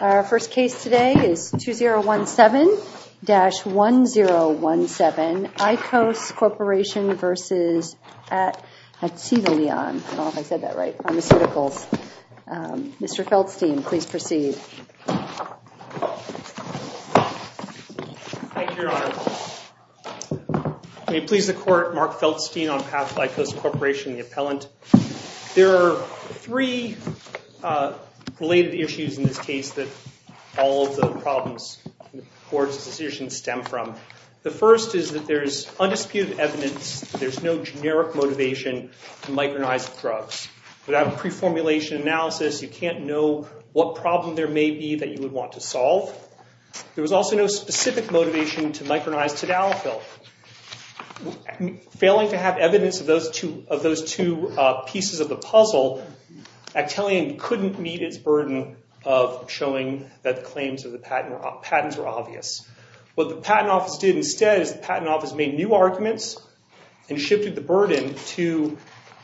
Our first case today is 2017-2017 ICOS Corporation v. Actelion Pharmaceuticals, Ltd. Mr. Feldstein, please proceed. Thank you, Your Honor. May it please the Court, Mark Feldstein on behalf of ICOS Corporation, the appellant. There are three related issues in this case that all of the problems in the Court's decision stem from. The first is that there is undisputed evidence that there is no generic motivation to micronize drugs. Without a pre-formulation analysis, you can't know what problem there may be that you would want to solve. There was also no specific motivation to micronize Tadalafil. Failing to have evidence of those two pieces of the puzzle, Actelion couldn't meet its burden of showing that the claims of the patents were obvious. What the Patent Office did instead is the Patent Office made new arguments and shifted the burden to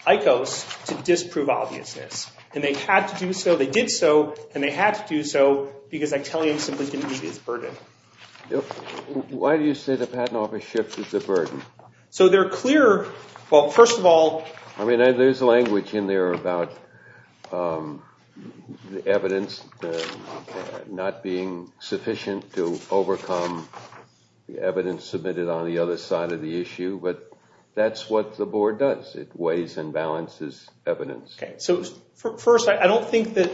ICOS to disprove obviousness. And they had to do so, they did so, and they had to do so because Actelion simply didn't meet its burden. Why do you say the Patent Office shifted the burden? So they're clear, well, first of all... I mean, there's language in there about the evidence not being sufficient to overcome the evidence submitted on the other side of the issue. But that's what the Board does. It weighs and balances evidence. So first, I don't think that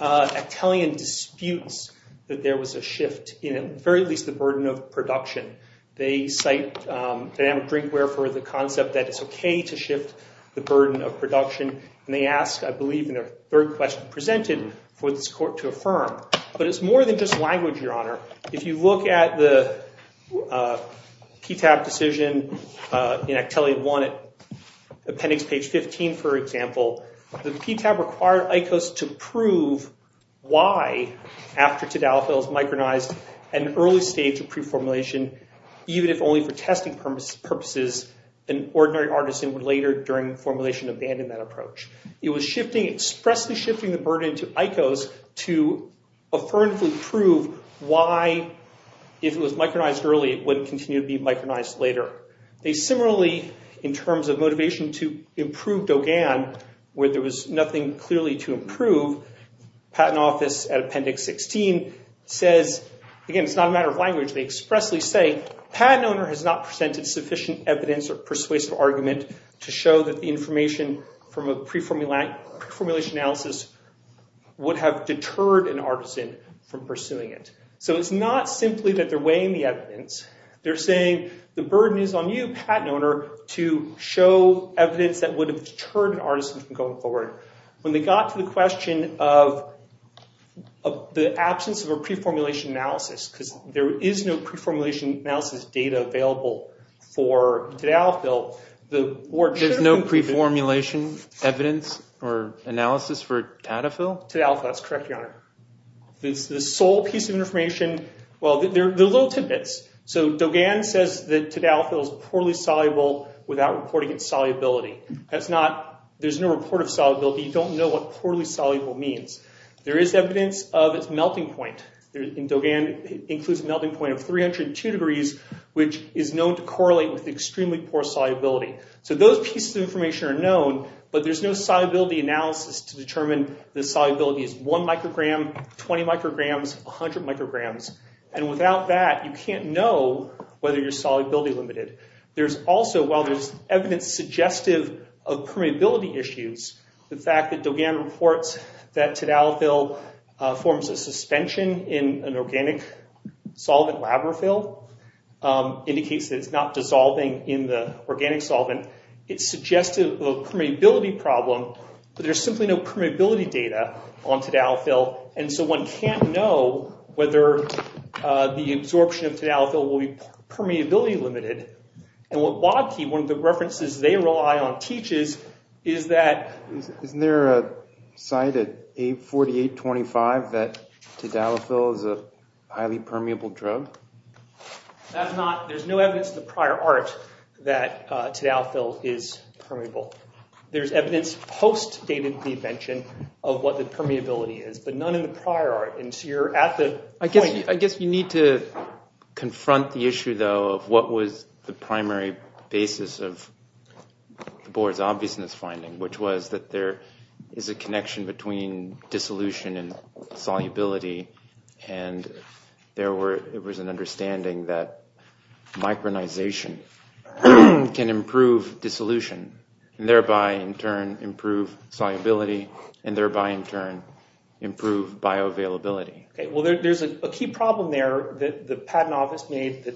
Actelion disputes that there was a shift in, at the very least, the burden of production. They cite dynamic drinkware for the concept that it's OK to shift the burden of production. And they ask, I believe in their third question presented, for this court to affirm. But it's more than just language, Your Honor. If you look at the PTAB decision in Actelion 1 at appendix page 15, for example, the PTAB required ICOS to prove why, after Tadalofil is micronized, an early stage of pre-formulation, even if only for testing purposes, an ordinary artisan would later, during formulation, abandon that approach. It was expressly shifting the burden to ICOS to affirmatively prove why, if it was micronized early, it would continue to be micronized later. They similarly, in terms of motivation to improve Dogan, where there was nothing clearly to improve, Patent Office at appendix 16 says, again, it's not a matter of language. They expressly say, patent owner has not presented sufficient evidence or persuasive argument to show that the information from a pre-formulation analysis would have deterred an artisan from pursuing it. So it's not simply that they're weighing the evidence. They're saying, the burden is on you, patent owner, to show evidence that would have deterred an artisan from going forward. When they got to the question of the absence of a pre-formulation analysis, because there is no pre-formulation analysis data available for Tadalofil. There's no pre-formulation evidence or analysis for Tadalofil? Tadalofil, that's correct, your honor. The sole piece of information, well, there are little tidbits. So Dogan says that Tadalofil is poorly soluble without reporting its solubility. There's no report of solubility. You don't know what poorly soluble means. There is evidence of its melting point. And Dogan includes a melting point of 302 degrees, which is known to correlate with extremely poor solubility. So those pieces of information are known. But there's no solubility analysis to determine the solubility is 1 microgram, 20 micrograms, 100 micrograms. And without that, you can't know whether you're solubility limited. There's also, while there's evidence suggestive of permeability issues, the fact that Dogan reports that Tadalofil forms a suspension in an organic solvent, Labrophil, indicates that it's not dissolving in the organic solvent. It's suggestive of a permeability problem. But there's simply no permeability data on Tadalofil. And so one can't know whether the absorption of Tadalofil will be permeability limited. And what Wabke, one of the references they rely on, teaches is that... Isn't there a site at 848.25 that Tadalofil is a highly permeable drug? There's no evidence in the prior art that Tadalofil is permeable. There's evidence post-data prevention of what the permeability is, but none in the prior art. And so you're at the point... I guess you need to confront the issue, though, of what was the primary basis of the board's obviousness finding, which was that there is a connection between dissolution and solubility. And there was an understanding that micronization can improve dissolution, and thereby, in turn, improve solubility, and thereby, in turn, improve bioavailability. Well, there's a key problem there that the patent office made that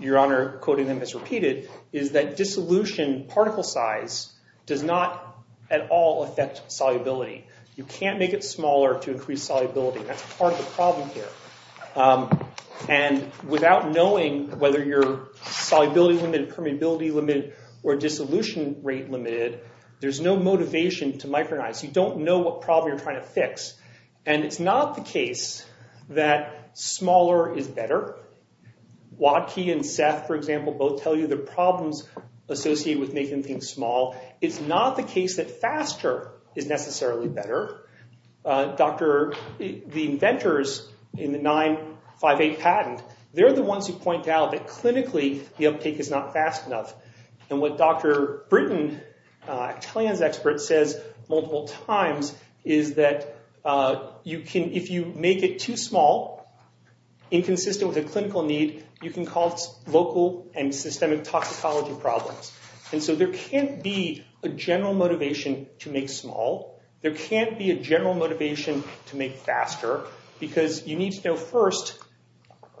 Your Honor, quoting them as repeated, is that dissolution particle size does not at all affect solubility. You can't make it smaller to increase solubility. That's part of the problem here. And without knowing whether you're solubility-limited, permeability-limited, or dissolution rate-limited, there's no motivation to micronize. You don't know what problem you're trying to fix. And it's not the case that smaller is better. Wabke and Seth, for example, both tell you the problems associated with making things small. It's not the case that faster is necessarily better. The inventors in the 958 patent, they're the ones who point out that clinically, the uptake is not fast enough. And what Dr. Britton, a trans expert, says multiple times is that if you make it too small, inconsistent with a clinical need, you can cause local and systemic toxicology problems. And so there can't be a general motivation to make small. There can't be a general motivation to make faster. Because you need to know first,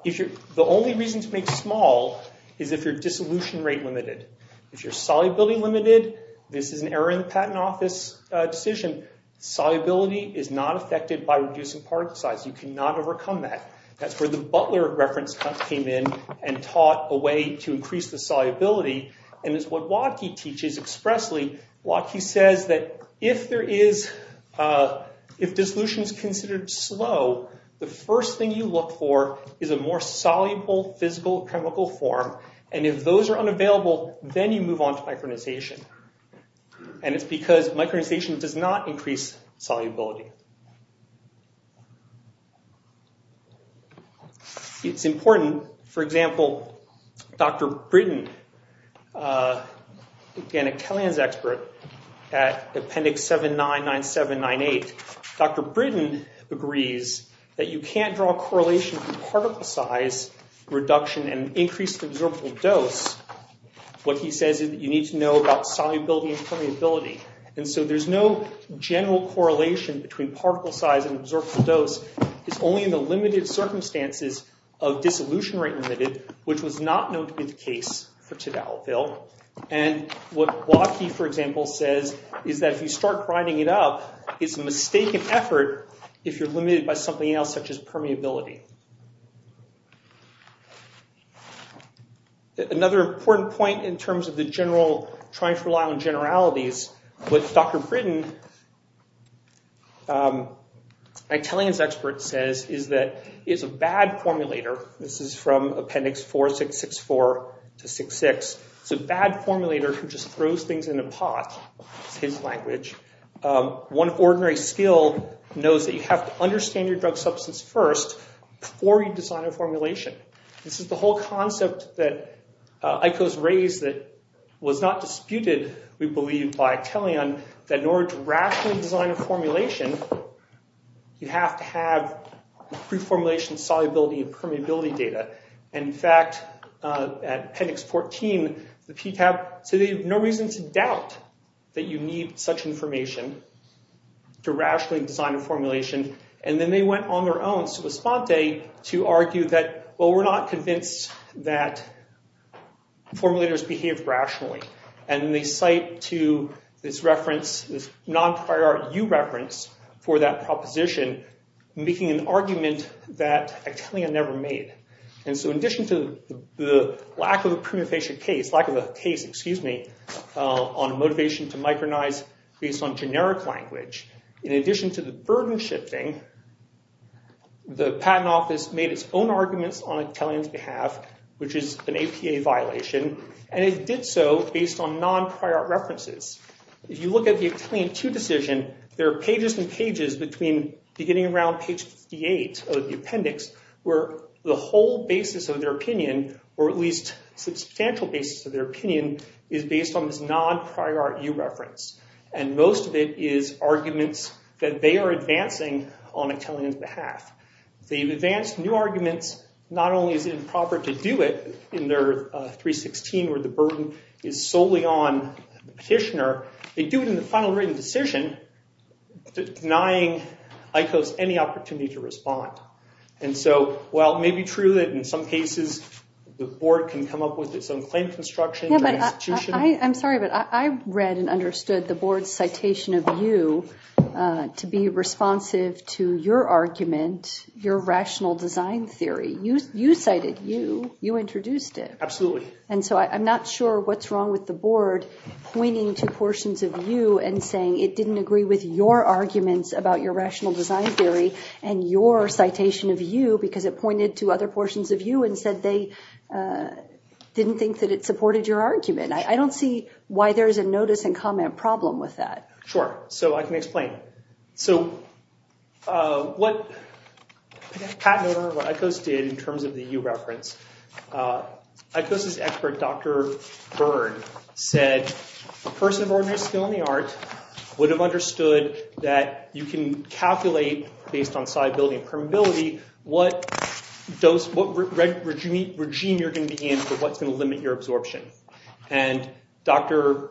the only reason to make small is if you're dissolution rate-limited. If you're solubility-limited, this is an error in the patent office decision. Solubility is not affected by reducing particle size. You cannot overcome that. That's where the Butler reference came in and taught a way to increase the solubility. And it's what Wabke teaches expressly. Wabke says that if there is, if dissolution is considered slow, the first thing you look for is a more soluble physical chemical form. And if those are unavailable, then you move on to micronization. And it's because micronization does not increase solubility. It's important, for example, Dr. Britton, again, a telehealth expert at Appendix 799798, Dr. Britton agrees that you can't draw a correlation from particle size reduction and increased absorbable dose. What he says is that you need to know about solubility and permeability. And so there's no general correlation between particle size and absorbable dose. It's only in the limited circumstances of dissolution rate-limited, which was not known to be the case for Tadalville. And what Wabke, for example, says is that if you start riding it up, it's a mistaken effort if you're limited by something else such as permeability. Another important point in terms of trying to rely on generalities, what Dr. Britton, a telehealth expert, says is that it's a bad formulator. This is from Appendix 4664 to 66. It's a bad formulator who just throws things in a pot. It's his language. One ordinary skill knows that you have to understand your drug substance first, before you design a formulation. This is the whole concept that ICOH has raised that was not disputed, we believe, by Teleon, that in order to rationally design a formulation, you have to have pre-formulation solubility and permeability data. And in fact, at Appendix 14, the PTAB said they have no reason to doubt And then they went on their own, su posponte, to argue that, well, we're not convinced that formulators behave rationally. And they cite to this reference, this non-priority reference for that proposition, making an argument that Actelia never made. And so in addition to the lack of a case on motivation to micronize based on generic language, in addition to the burden shifting, the Patent Office made its own arguments on Actelian's behalf, which is an APA violation, and it did so based on non-priority references. If you look at the Actelian 2 decision, there are pages and pages between beginning around page 58 of the appendix, where the whole basis of their opinion, or at least substantial basis of their opinion, is based on this non-priority reference. And most of it is arguments that they are advancing on Actelian's behalf. They've advanced new arguments. Not only is it improper to do it in their 316, where the burden is solely on the petitioner, they do it in the final written decision, denying ICOs any opportunity to respond. And so while it may be true that in some cases the board can come up with its own claim construction, I'm sorry, but I read and understood the board's citation of you to be responsive to your argument, your rational design theory. You cited you. You introduced it. Absolutely. And so I'm not sure what's wrong with the board pointing to portions of you and saying it didn't agree with your arguments about your rational design theory and your citation of you because it pointed to other portions of you and said they didn't think that it supported your argument. I don't see why there's a notice and comment problem with that. Sure. So I can explain. So what Pat and ICOs did in terms of the EU reference, ICOs' expert, Dr. Byrd, said a person of ordinary skill in the art would have understood that you can calculate, based on solubility and permeability, what regime you're going to be in for what's going to limit your absorption. And Dr.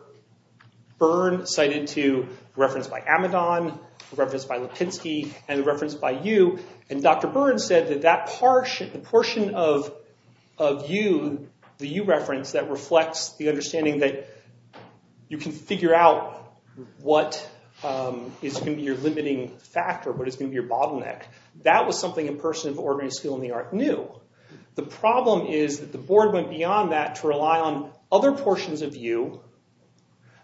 Byrd cited a reference by Amidon, a reference by Lipinski, and a reference by you. And Dr. Byrd said that that portion of you, the EU reference, that reflects the understanding that you can figure out what is going to be your limiting factor, what is going to be your bottleneck, that was something a person of ordinary skill in the art knew. The problem is that the board went beyond that to rely on other portions of you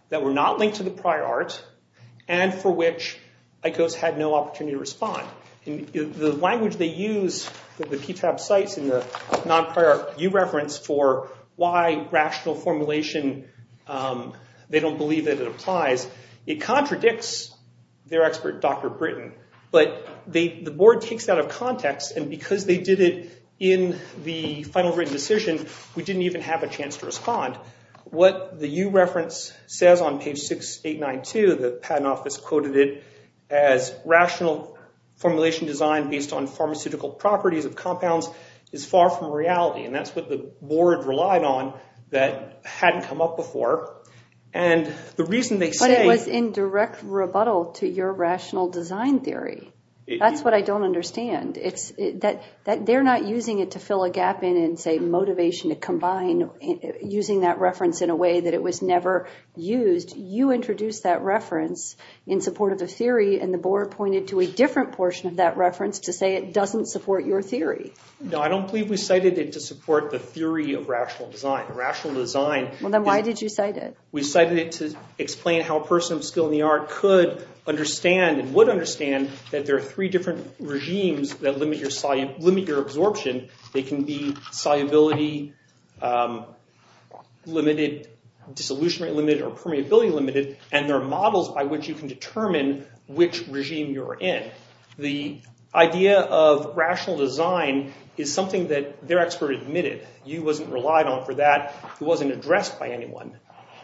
that were not linked to the prior art and for which ICOs had no opportunity to respond. The language they use, the PTAB cites in the non-prior art EU reference for why rational formulation, they don't believe that it applies, it contradicts their expert, Dr. Britton. But the board takes that out of context, and because they did it in the final written decision, we didn't even have a chance to respond. What the EU reference says on page 6892, the Patent Office quoted it as, rational formulation design based on pharmaceutical properties of compounds is far from reality. And that's what the board relied on that hadn't come up before. But it was in direct rebuttal to your rational design theory. That's what I don't understand. They're not using it to fill a gap in and say motivation to combine, using that reference in a way that it was never used. You introduced that reference in support of the theory, and the board pointed to a different portion of that reference to say it doesn't support your theory. No, I don't believe we cited it to support the theory of rational design. Well, then why did you cite it? We cited it to explain how a person of skill in the art could understand and would understand that there are three different regimes that limit your absorption. They can be solubility-limited, disillusionment-limited, or permeability-limited, and there are models by which you can determine which regime you're in. The idea of rational design is something that their expert admitted. You wasn't relied on for that. It wasn't addressed by anyone.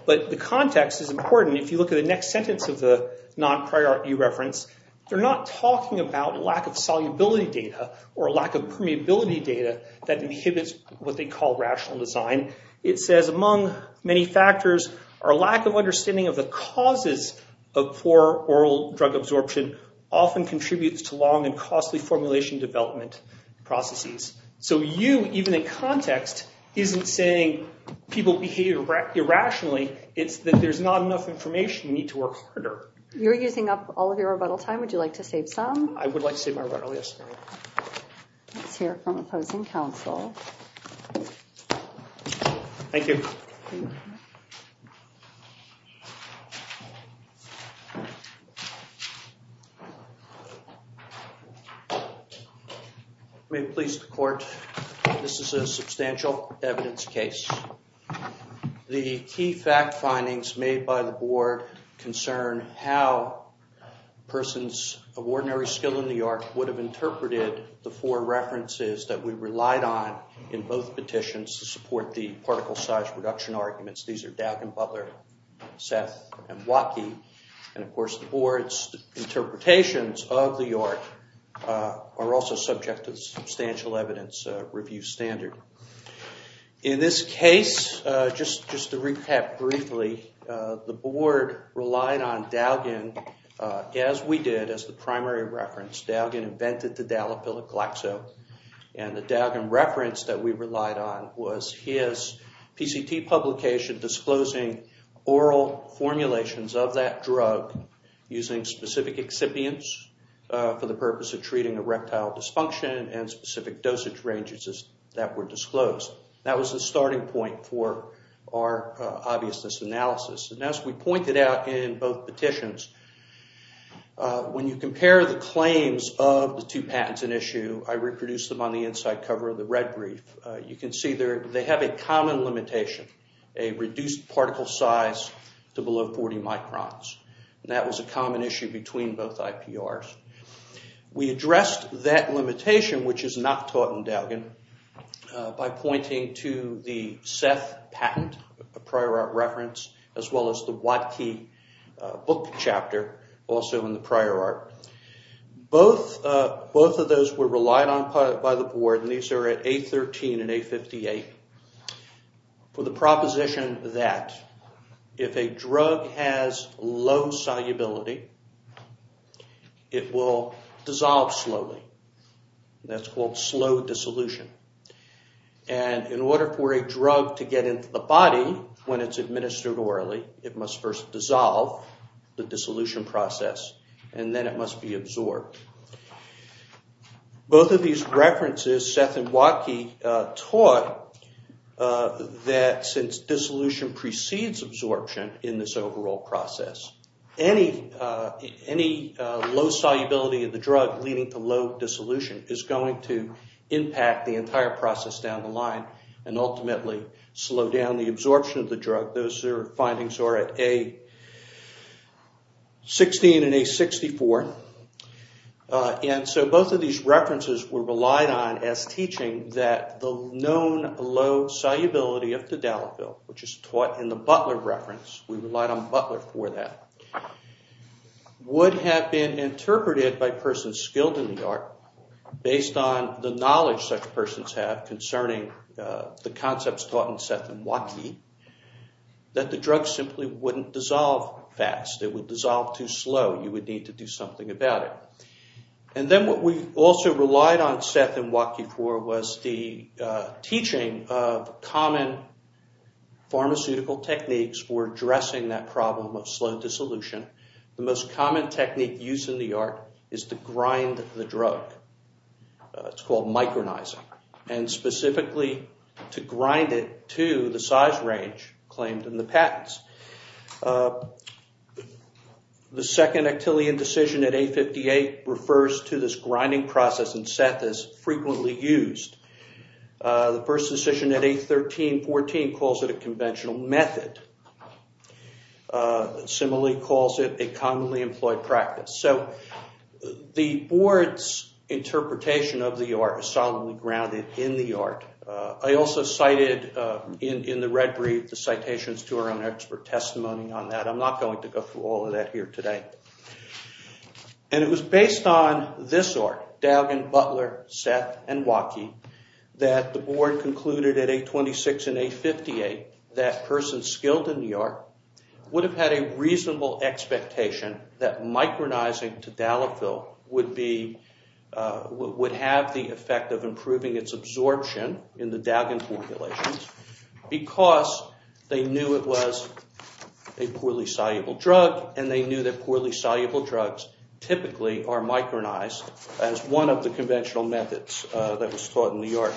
But the context is important. If you look at the next sentence of the non-priority reference, they're not talking about lack of solubility data or lack of permeability data that inhibits what they call rational design. It says, among many factors, our lack of understanding of the causes of poor oral drug absorption often contributes to long and costly formulation development processes. So you, even in context, isn't saying people behave irrationally. It's that there's not enough information. You need to work harder. You're using up all of your rebuttal time. Would you like to save some? I would like to save my rebuttal, yes. Let's hear from opposing counsel. Thank you. May it please the court, this is a substantial evidence case. The key fact findings made by the board concern how a person's ordinary skill in the art would have interpreted the four references that we relied on in both petitions to support the particle size reduction arguments. These are Daughan Butler, Seth, and Waukee. And, of course, the board's interpretations of the art are also subject to substantial evidence review standard. In this case, just to recap briefly, the board relied on Daughan, as we did, as the primary reference. Daughan invented the dilapidic glaxo, and the Daughan reference that we relied on was his PCT publication disclosing oral formulations of that drug using specific excipients for the purpose of treating erectile dysfunction and specific dosage ranges that were disclosed. That was the starting point for our obviousness analysis. And as we pointed out in both petitions, when you compare the claims of the two patents in issue, I reproduced them on the inside cover of the red brief. You can see they have a common limitation, a reduced particle size to below 40 microns. That was a common issue between both IPRs. We addressed that limitation, which is not taught in Daughan, by pointing to the Seth patent, a prior art reference, as well as the Waukee book chapter, also in the prior art. Both of those were relied on by the board, and these are at A13 and A58, for the proposition that if a drug has low solubility, it will dissolve slowly. That's called slow dissolution. And in order for a drug to get into the body when it's administered orally, it must first dissolve the dissolution process, and then it must be absorbed. Both of these references, Seth and Waukee taught that since dissolution precedes absorption in this overall process, any low solubility of the drug leading to low dissolution is going to impact the entire process down the line and ultimately slow down the absorption of the drug. Both of those findings are at A16 and A64. And so both of these references were relied on as teaching that the known low solubility of Tadalafil, which is taught in the Butler reference, we relied on Butler for that, would have been interpreted by persons skilled in the art, based on the knowledge such persons have concerning the concepts taught in Seth and Waukee, that the drug simply wouldn't dissolve fast. It would dissolve too slow. You would need to do something about it. And then what we also relied on Seth and Waukee for was the teaching of common pharmaceutical techniques for addressing that problem of slow dissolution. The most common technique used in the art is to grind the drug. It's called micronizing, and specifically to grind it to the size range claimed in the patents. The second Actillion decision at A58 refers to this grinding process in Seth as frequently used. The first decision at A13-14 calls it a conventional method. Similarly calls it a commonly employed practice. So the board's interpretation of the art is solemnly grounded in the art. I also cited in the red brief the citations to our own expert testimony on that. I'm not going to go through all of that here today. And it was based on this art, Dalgan, Butler, Seth, and Waukee, that the board concluded at A26 and A58 that a person skilled in the art would have had a reasonable expectation that micronizing to Daliphyl would have the effect of improving its absorption in the Dalgan formulations because they knew it was a poorly soluble drug, and they knew that poorly soluble drugs typically are micronized as one of the conventional methods that was taught in the art.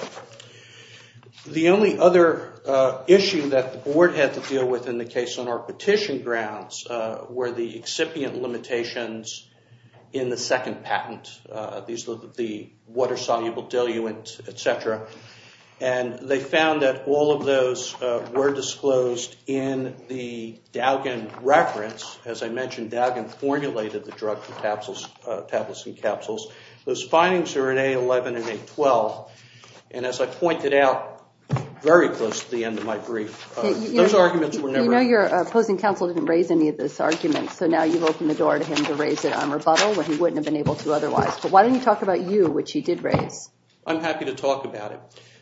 The only other issue that the board had to deal with in the case on our petition grounds were the excipient limitations in the second patent, the water-soluble diluent, etc. And they found that all of those were disclosed in the Dalgan reference. As I mentioned, Dalgan formulated the drug for papillocin capsules. Those findings are in A11 and A12. And as I pointed out very close to the end of my brief, those arguments were never— You know your opposing counsel didn't raise any of this argument, so now you've opened the door to him to raise it on rebuttal when he wouldn't have been able to otherwise. But why don't you talk about you, which you did raise? I'm happy to talk about it.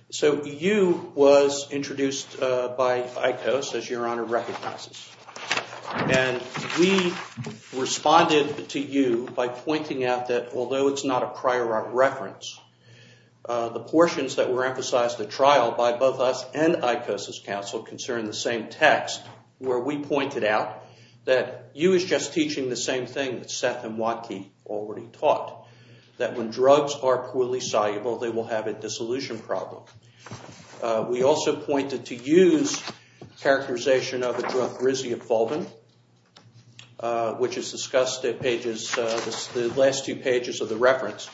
So you was introduced by ICOS, as Your Honor recognizes. And we responded to you by pointing out that although it's not a prior art reference, the portions that were emphasized at trial by both us and ICOS's counsel concern the same text, where we pointed out that you is just teaching the same thing that Seth and Waki already taught, that when drugs are poorly soluble, they will have a dissolution problem. We also pointed to you's characterization of the drug risiofolvin, which is discussed in the last two pages of the reference.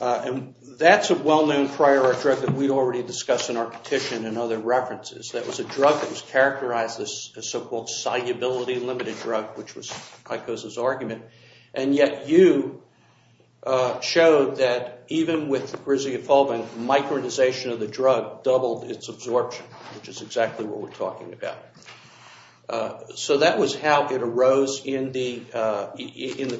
And that's a well-known prior art drug that we already discussed in our petition and other references. That was a drug that was characterized as a so-called solubility-limited drug, which was ICOS's argument. And yet you showed that even with risiofolvin, micronization of the drug doubled its absorption, which is exactly what we're talking about. So that was how it arose in the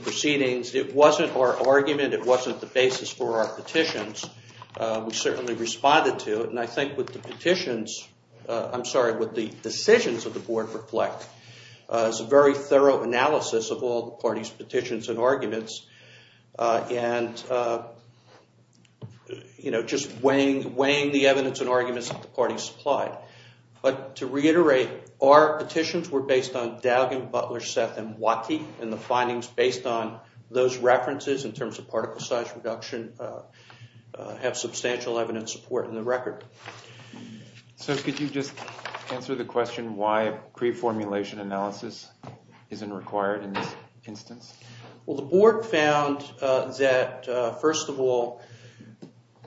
proceedings. It wasn't our argument. It wasn't the basis for our petitions. We certainly responded to it. And I think what the decisions of the board reflect is a very thorough analysis of all the parties' petitions and arguments, and just weighing the evidence and arguments that the parties supplied. But to reiterate, our petitions were based on Dalgan, Butler, Seth, and Waki, and the findings based on those references in terms of particle size reduction have substantial evidence support in the record. So could you just answer the question why pre-formulation analysis isn't required in this instance? Well, the board found that, first of all,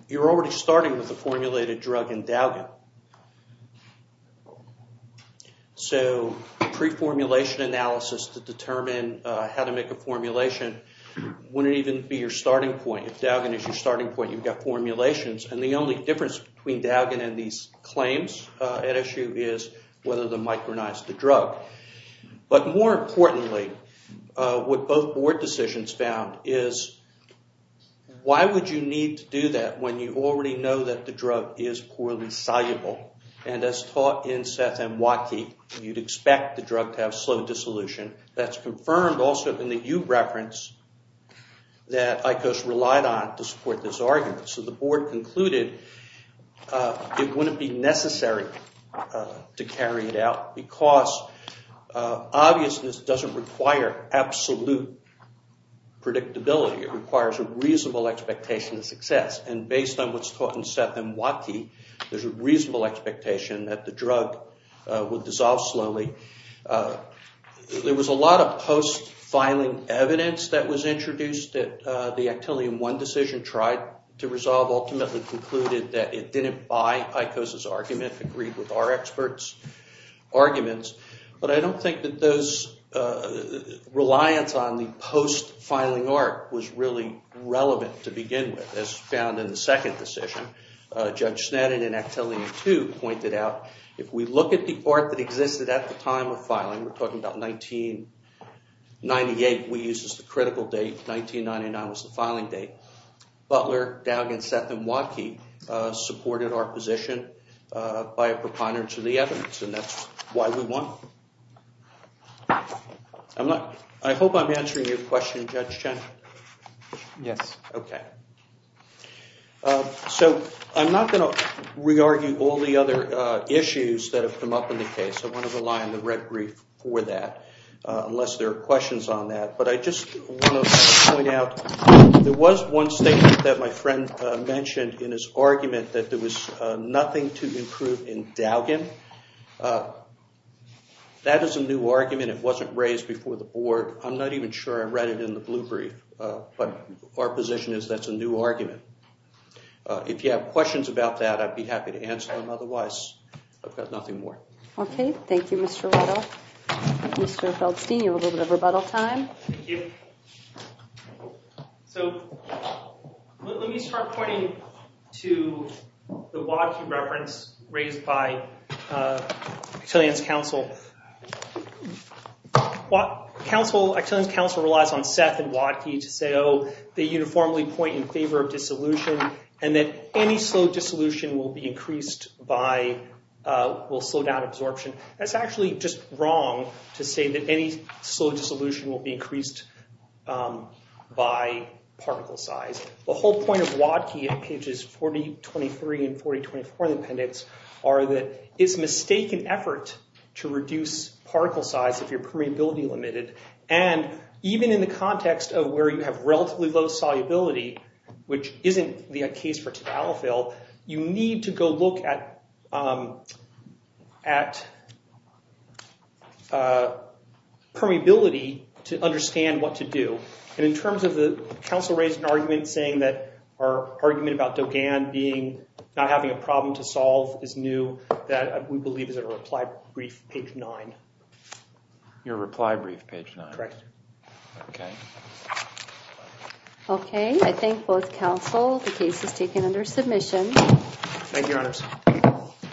you're already starting with a formulated drug in Dalgan. So pre-formulation analysis to determine how to make a formulation wouldn't even be your starting point. If Dalgan is your starting point, you've got formulations. And the only difference between Dalgan and these claims at issue is whether to micronize the drug. But more importantly, what both board decisions found is, why would you need to do that when you already know that the drug is poorly soluble? And as taught in Seth and Waki, you'd expect the drug to have slow dissolution. That's confirmed also in the U reference that ICOS relied on to support this argument. So the board concluded it wouldn't be necessary to carry it out because obviousness doesn't require absolute predictability. It requires a reasonable expectation of success. And based on what's taught in Seth and Waki, there's a reasonable expectation that the drug would dissolve slowly. There was a lot of post-filing evidence that was introduced that the Actelium I decision tried to resolve ultimately concluded that it didn't buy ICOS' argument, agreed with our experts' arguments. But I don't think that those reliance on the post-filing arc was really relevant to begin with. As found in the second decision, Judge Sneddon in Actelium II pointed out, if we look at the arc that existed at the time of filing, we're talking about 1998, which we use as the critical date, 1999 was the filing date. Butler, Dowd and Seth and Waki supported our position by a preponderance of the evidence, and that's why we won. I hope I'm answering your question, Judge Chen. Yes. Okay. So I'm not going to re-argue all the other issues that have come up in the case. I want to rely on the red brief for that unless there are questions on that. But I just want to point out there was one statement that my friend mentioned in his argument that there was nothing to improve in Dowgan. That is a new argument. It wasn't raised before the board. I'm not even sure I read it in the blue brief, but our position is that's a new argument. If you have questions about that, I'd be happy to answer them. Otherwise, I've got nothing more. Okay. Thank you, Mr. Riddle. Mr. Feldstein, you have a little bit of rebuttal time. Thank you. So let me start pointing to the Waki reference raised by Excellence Counsel. Excellence Counsel relies on Seth and Waki to say, oh, they uniformly point in favor of dissolution and that any slow dissolution will slow down absorption. That's actually just wrong to say that any slow dissolution will be increased by particle size. The whole point of Waki in pages 4023 and 4024 in the appendix are that it's a mistaken effort to reduce particle size if you're permeability limited. And even in the context of where you have relatively low solubility, which isn't the case for tabalafil, you need to go look at permeability to understand what to do. And in terms of the counsel raised an argument saying that our argument about Dogan not having a problem to solve is new, that we believe is in a reply brief, page nine. Your reply brief, page nine. Correct. Okay. Okay, I thank both counsel. The case is taken under submission. Thank you, Your Honors.